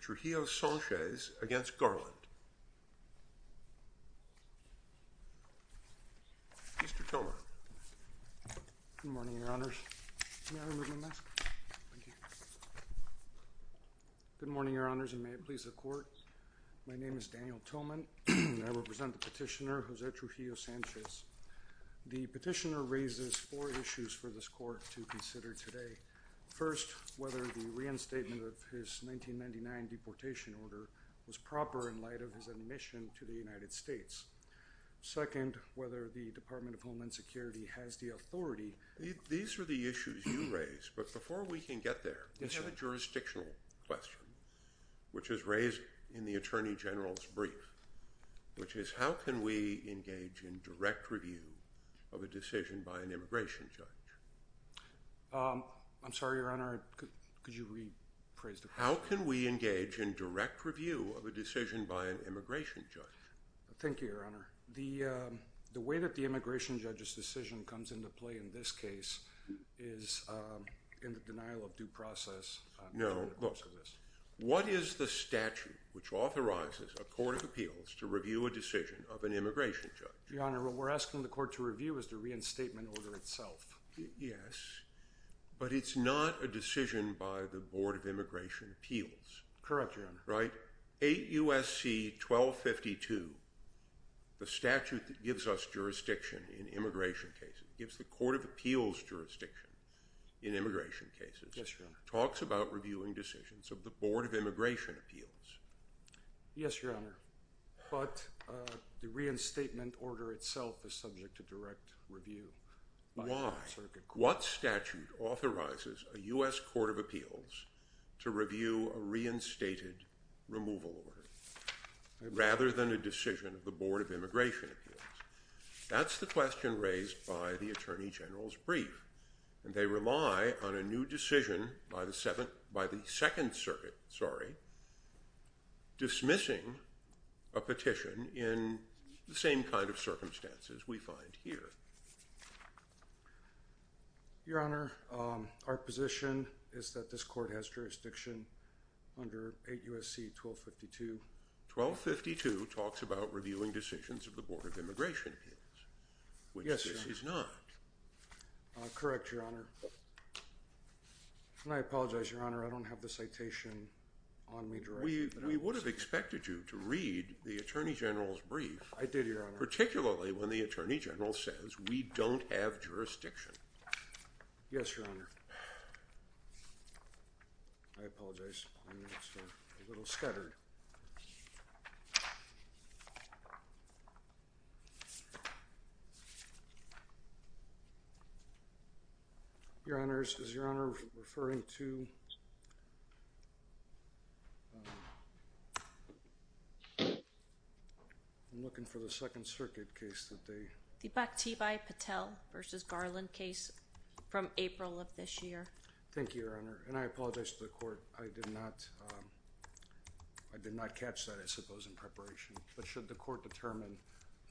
Trujillo-Sanchez v. Merrick Garland Good morning, Your Honors, and may it please the Court. My name is Daniel Tillman, and I represent the Petitioner, José Trujillo-Sanchez. The Petitioner raises four issues for this Court to consider today. First, whether the reinstatement of his 1999 deportation order was proper in light of his admission to the United States. Second, whether the Department of Homeland Security has the authority. These are the issues you raise, but before we can get there, we have a jurisdictional question, which is raised in the Attorney General's brief, which is how can we engage in direct review of a decision by an immigration judge? I'm sorry, Your Honor, could you rephrase the question? How can we engage in direct review of a decision by an immigration judge? Thank you, Your Honor. The way that the immigration judge's decision comes into play in this case is in the denial of due process. No, look, what is the statute which authorizes a court of appeals to review a decision of an immigration judge? Your Honor, what we're asking the Court to review is the reinstatement order itself. Yes, but it's not a decision by the Board of Immigration Appeals. Correct, Your Honor. Right? 8 U.S.C. 1252, the statute that gives us jurisdiction in immigration cases, gives the court of appeals jurisdiction in immigration cases, talks about reviewing decisions of the Board of Immigration Appeals. Yes, Your Honor, but the reinstatement order itself is subject to direct review by the Circuit Court. Why? What statute authorizes a U.S. Court of Appeals to review a reinstated removal order rather than a decision of the Board of Immigration Appeals? That's the question raised by the Attorney General's brief, and they rely on a new decision by the Second Circuit dismissing a petition in the same kind of circumstances we find here. Your Honor, our position is that this court has jurisdiction under 8 U.S.C. 1252. 1252 talks about reviewing decisions of the Board of Immigration Appeals, which this is not. Yes, Your Honor. Correct, Your Honor. And I apologize, Your Honor, I don't have the citation on me directly, but I was... We would have expected you to read the Attorney General's brief... I did, Your Honor. ...particularly when the Attorney General says we don't have jurisdiction. Yes, Your Honor. I apologize, I'm just a little scattered. Your Honors, is Your Honor referring to, I'm looking for the Second Circuit case that they... The Bhaktibhai Patel v. Garland case from April of this year. Thank you, Your Honor, and I apologize to the Court, I did not catch that, I suppose, in preparation, but should the Court determine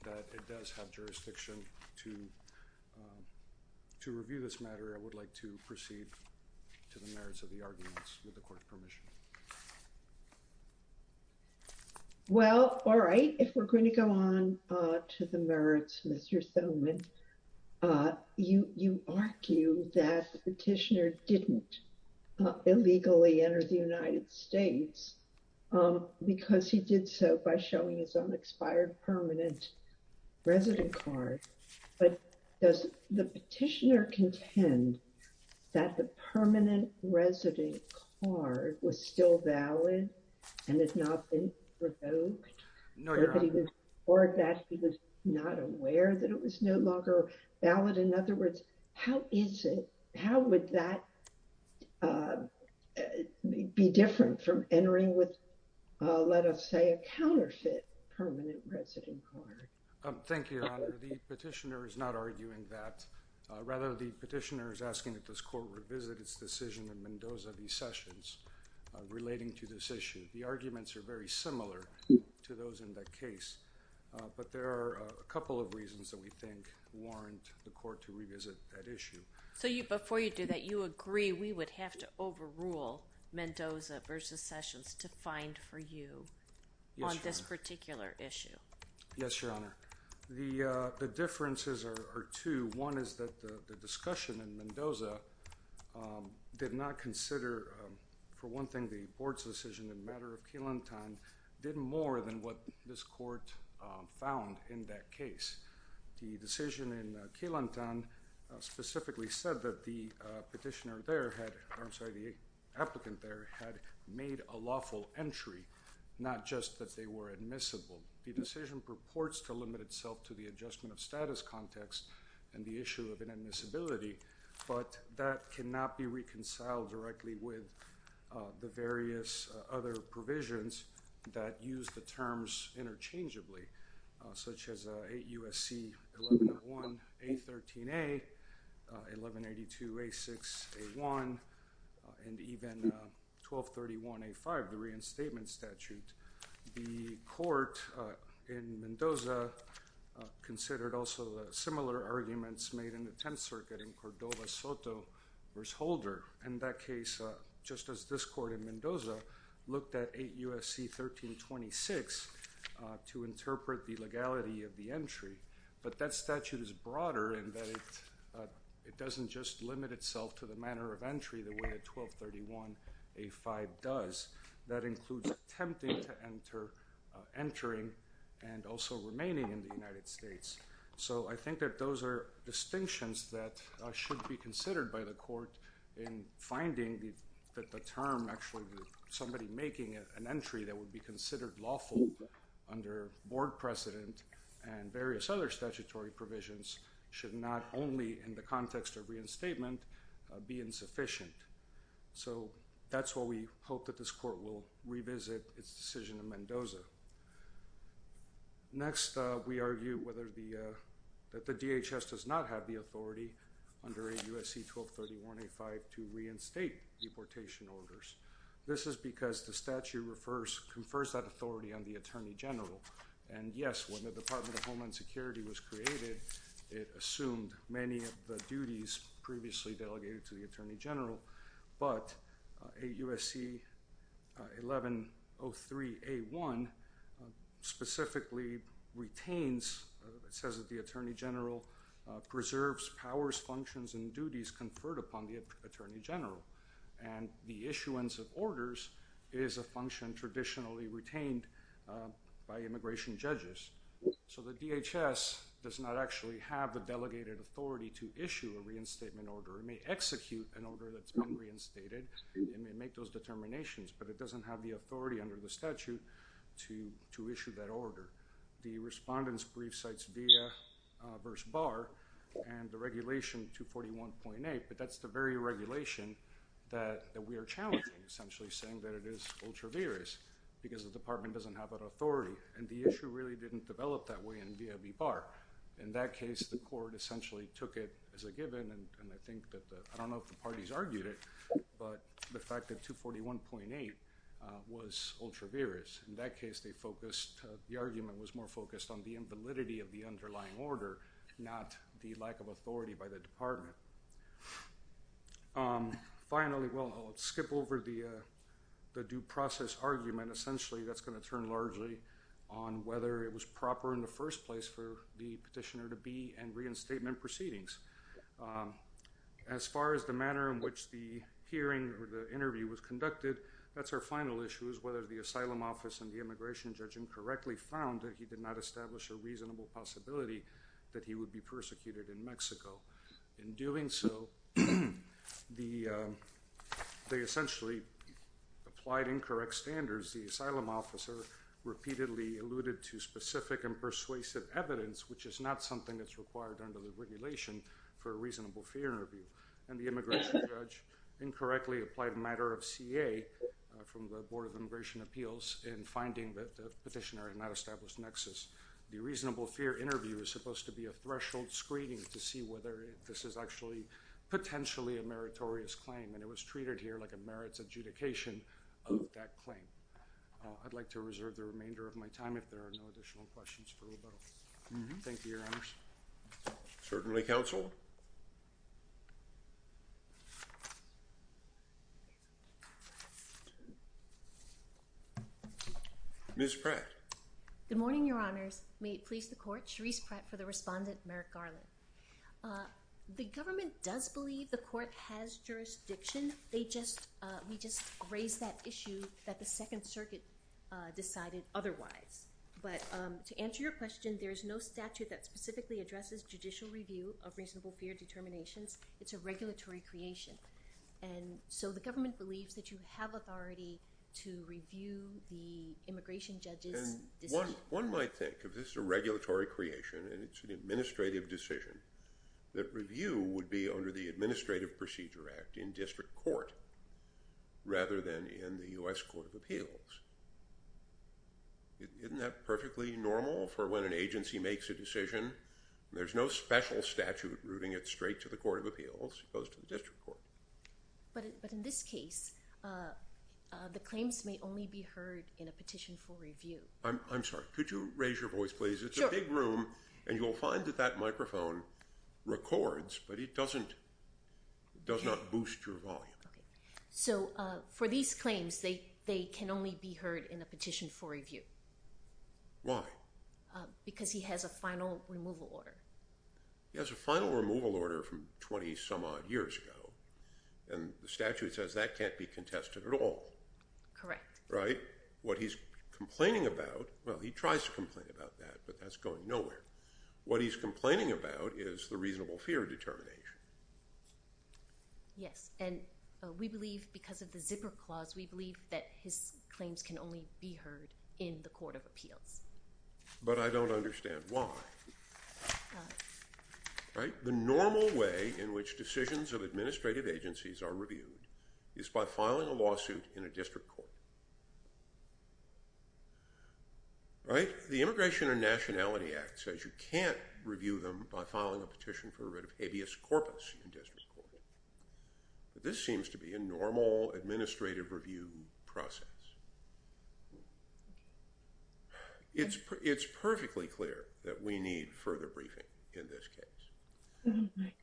that it does have jurisdiction to review this matter, I would like to proceed to the merits of the arguments with the Court's permission. Well, all right, if we're going to go on to the merits, Mr. Thoman, you argue that the petitioner didn't illegally enter the United States because he did so by showing his unexpired permanent resident card, but does the petitioner contend that the permanent resident card was still valid and has not been provoked? No, Your Honor. Or that he was not aware that it was no longer valid? In other words, how is it, how would that be different from entering with, let us say, a counterfeit permanent resident card? Thank you, Your Honor, the petitioner is not arguing that. Rather, the petitioner is asking that this Court revisit its decision in Mendoza v. Sessions relating to this issue. The arguments are very similar to those in that case, but there are a couple of reasons that we think warrant the Court to revisit that issue. So before you do that, you agree we would have to overrule Mendoza v. Sessions to find for you on this particular issue? Yes, Your Honor. The differences are two. One is that the discussion in Mendoza did not consider, for one thing, the Board's decision in the matter of Key Lantan did more than what this Court found in that case. The decision in Key Lantan specifically said that the petitioner there had, I'm sorry, the applicant there had made a lawful entry, not just that they were admissible. The decision purports to limit itself to the adjustment of status context and the issue of inadmissibility, but that cannot be reconciled directly with the various other provisions that use the terms interchangeably, such as 8 U.S.C. 1101 A13a, 1182 A6 A1, and even 1231 A5, the reinstatement statute. The Court in Mendoza considered also similar arguments made in the Tenth Circuit in Cordova Soto v. Holder. In that case, just as this Court in Mendoza looked at 8 U.S.C. 1326 to interpret the legality of the entry, but that statute is broader in that it doesn't just limit itself to the 1231 A5 does, that includes attempting to enter, entering, and also remaining in the United States. So, I think that those are distinctions that should be considered by the Court in finding that the term actually somebody making an entry that would be considered lawful under board precedent and various other statutory provisions should not only in the context of reinstatement be insufficient. So, that's what we hope that this Court will revisit its decision in Mendoza. Next, we argue whether the, that the DHS does not have the authority under 8 U.S.C. 1231 A5 to reinstate deportation orders. This is because the statute refers, confers that authority on the Attorney General, and yes, when the Department of Homeland Security was created, it assumed many of the duties previously delegated to the Attorney General, but 8 U.S.C. 1103 A1 specifically retains, it says that the Attorney General preserves powers, functions, and duties conferred upon the Attorney General, and the issuance of orders is a function traditionally retained by immigration judges. So, the DHS does not actually have the delegated authority to issue a reinstatement order. It may execute an order that's been reinstated. It may make those determinations, but it doesn't have the authority under the statute to, to issue that order. The respondent's brief cites VIA verse BAR, and the regulation 241.8, but that's the very regulation that, that we are challenging, essentially saying that it is ultraviarious because the department doesn't have that authority, and the issue really didn't develop that way in VIA v. BAR. In that case, the court essentially took it as a given, and I think that the, I don't know if the parties argued it, but the fact that 241.8 was ultraviarious. In that case, they focused, the argument was more focused on the invalidity of the underlying order, not the lack of authority by the department. Finally, well, I'll skip over the, the due process argument. Essentially, that's going to turn largely on whether it was proper in the first place for the petitioner to be in reinstatement proceedings. As far as the manner in which the hearing or the interview was conducted, that's our final issue, is whether the asylum office and the immigration judge incorrectly found that he did not establish a reasonable possibility that he would be persecuted in Mexico. In doing so, the, they essentially applied incorrect standards. The asylum officer repeatedly alluded to specific and persuasive evidence, which is not something that's required under the regulation for a reasonable fear interview. And the immigration judge incorrectly applied a matter of CA from the Board of Immigration Appeals in finding that the petitioner had not established nexus. The reasonable fear interview is supposed to be a threshold screening to see whether this is actually potentially a meritorious claim. And it was treated here like a merits adjudication of that claim. I'd like to reserve the remainder of my time if there are no additional questions for rebuttal. Thank you, Your Honors. Certainly, Counsel. Ms. Pratt. Good morning, Your Honors. May it please the Court. Cherise Pratt for the respondent, Merrick Garland. The government does believe the court has jurisdiction. They just, we just raised that issue that the Second Circuit decided otherwise. But to answer your question, there is no statute that specifically addresses judicial review of reasonable fear determinations. It's a regulatory creation. And so the government believes that you have authority to review the immigration judges One might think, if this is a regulatory creation and it's an administrative decision, that review would be under the Administrative Procedure Act in district court rather than in the U.S. Court of Appeals. Isn't that perfectly normal for when an agency makes a decision and there's no special statute routing it straight to the Court of Appeals as opposed to the district court? But in this case, the claims may only be heard in a petition for review. I'm sorry, could you raise your voice, please? It's a big room, and you'll find that that microphone records, but it doesn't, it does not boost your volume. So for these claims, they can only be heard in a petition for review. Why? Because he has a final removal order. He has a final removal order from 20-some-odd years ago, and the statute says that can't be contested at all. Correct. Right? What he's complaining about, well, he tries to complain about that, but that's going nowhere. What he's complaining about is the reasonable fear determination. Yes, and we believe, because of the zipper clause, we believe that his claims can only be heard in the Court of Appeals. But I don't understand why. Right? The normal way in which decisions of administrative agencies are reviewed is by filing a lawsuit in a district court. Right? The Immigration and Nationality Act says you can't review them by filing a petition for a writ of habeas corpus in district court. But this seems to be a normal administrative review process. Okay. It's perfectly clear that we need further briefing in this case. Right.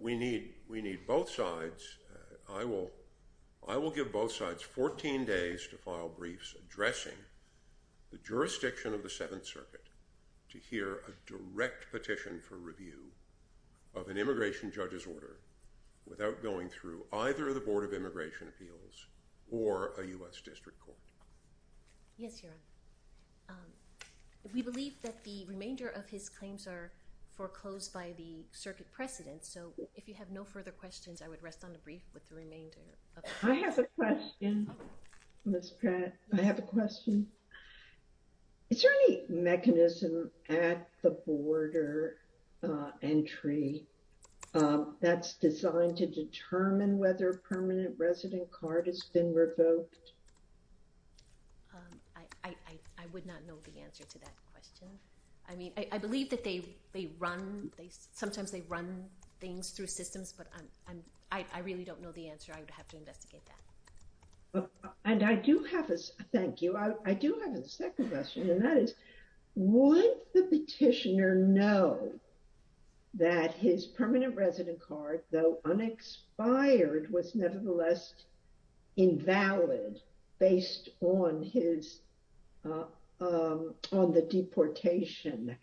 We need both sides. I will give both sides 14 days to file briefs addressing the jurisdiction of the Seventh Circuit to hear a direct petition for review of an immigration judge's order without going through either the Board of Immigration Appeals or a U.S. district court. Yes, Your Honor. We believe that the remainder of his claims are foreclosed by the circuit precedent. So, if you have no further questions, I would rest on the brief with the remainder of... I have a question, Ms. Pratt. I have a question. Is there any mechanism at the border entry that's designed to determine whether a permanent resident card has been revoked? I would not know the answer to that question. I mean, I believe that they run... Sometimes they run things through systems, but I really don't know the answer. I would have to investigate that. And I do have a... Thank you. I do have a second question, and that is, would the petitioner know that his permanent resident card, though unexpired, was nevertheless invalid based on his... on the deportation?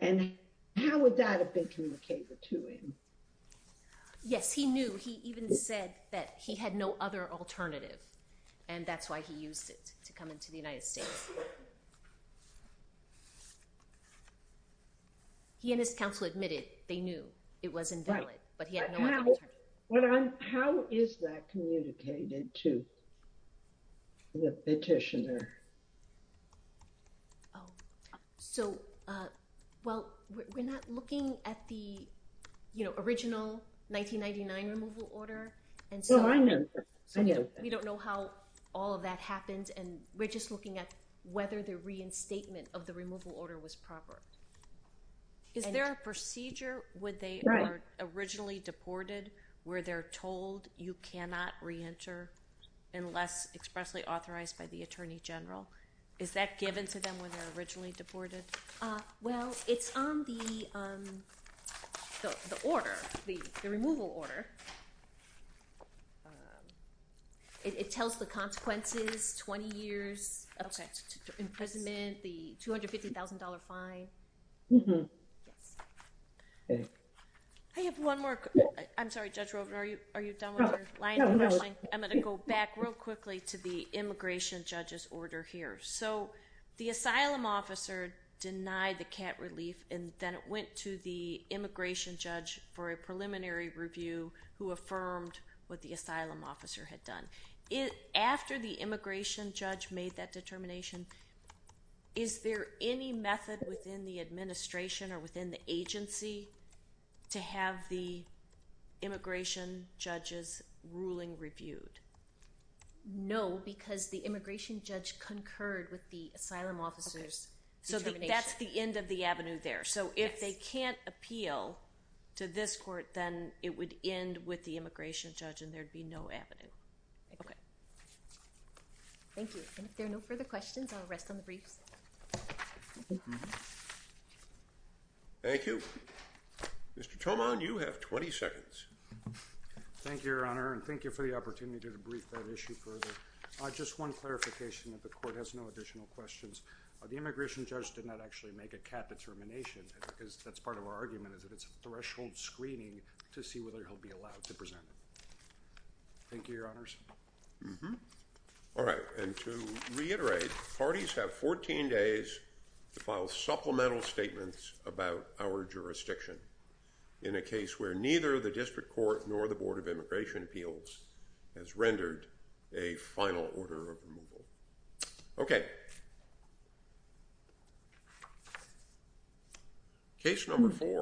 And how would that have been communicated to him? Yes, he knew. He even said that he had no other alternative, and that's why he used it to come into the United States. He and his counsel admitted they knew it was invalid, but he had no other alternative. How is that communicated to the petitioner? So, well, we're not looking at the, you know, original 1999 removal order, and so... Well, I know. We don't know how all of that happened, and we're just looking at whether the reinstatement of the removal order was proper. Is there a procedure where they are originally deported where they're told you cannot reenter unless expressly authorized by the Attorney General? Is that given to them when they're originally deported? Well, it's on the order, the removal order. It tells the consequences, 20 years of imprisonment, the $250,000 fine. Mm-hmm. Yes. Okay. I have one more. I'm sorry, Judge Rovner. Are you done with your line of questioning? No, no. I'm going to go back real quickly to the immigration judge's order here. So the asylum officer denied the CAT relief, and then it went to the immigration judge for a preliminary review. Who affirmed what the asylum officer had done. After the immigration judge made that determination, is there any method within the administration or within the agency to have the immigration judge's ruling reviewed? No, because the immigration judge concurred with the asylum officer's determination. So that's the end of the avenue there. Yes. So if they can't appeal to this court, then it would end with the immigration judge and there'd be no avenue. Okay. Thank you. And if there are no further questions, I'll rest on the briefs. Mm-hmm. Thank you. Mr. Tomon, you have 20 seconds. Thank you, Your Honor, and thank you for the opportunity to debrief that issue further. Just one clarification, that the court has no additional questions. The immigration judge did not actually make a CAT determination because that's part of our argument is that it's a threshold screening to see whether he'll be allowed to present. Thank you, Your Honors. Mm-hmm. All right, and to reiterate, parties have 14 days to file supplemental statements about our jurisdiction in a case where neither the district court nor the Board of Immigration Appeals has rendered a final order of removal. Okay. Case number four.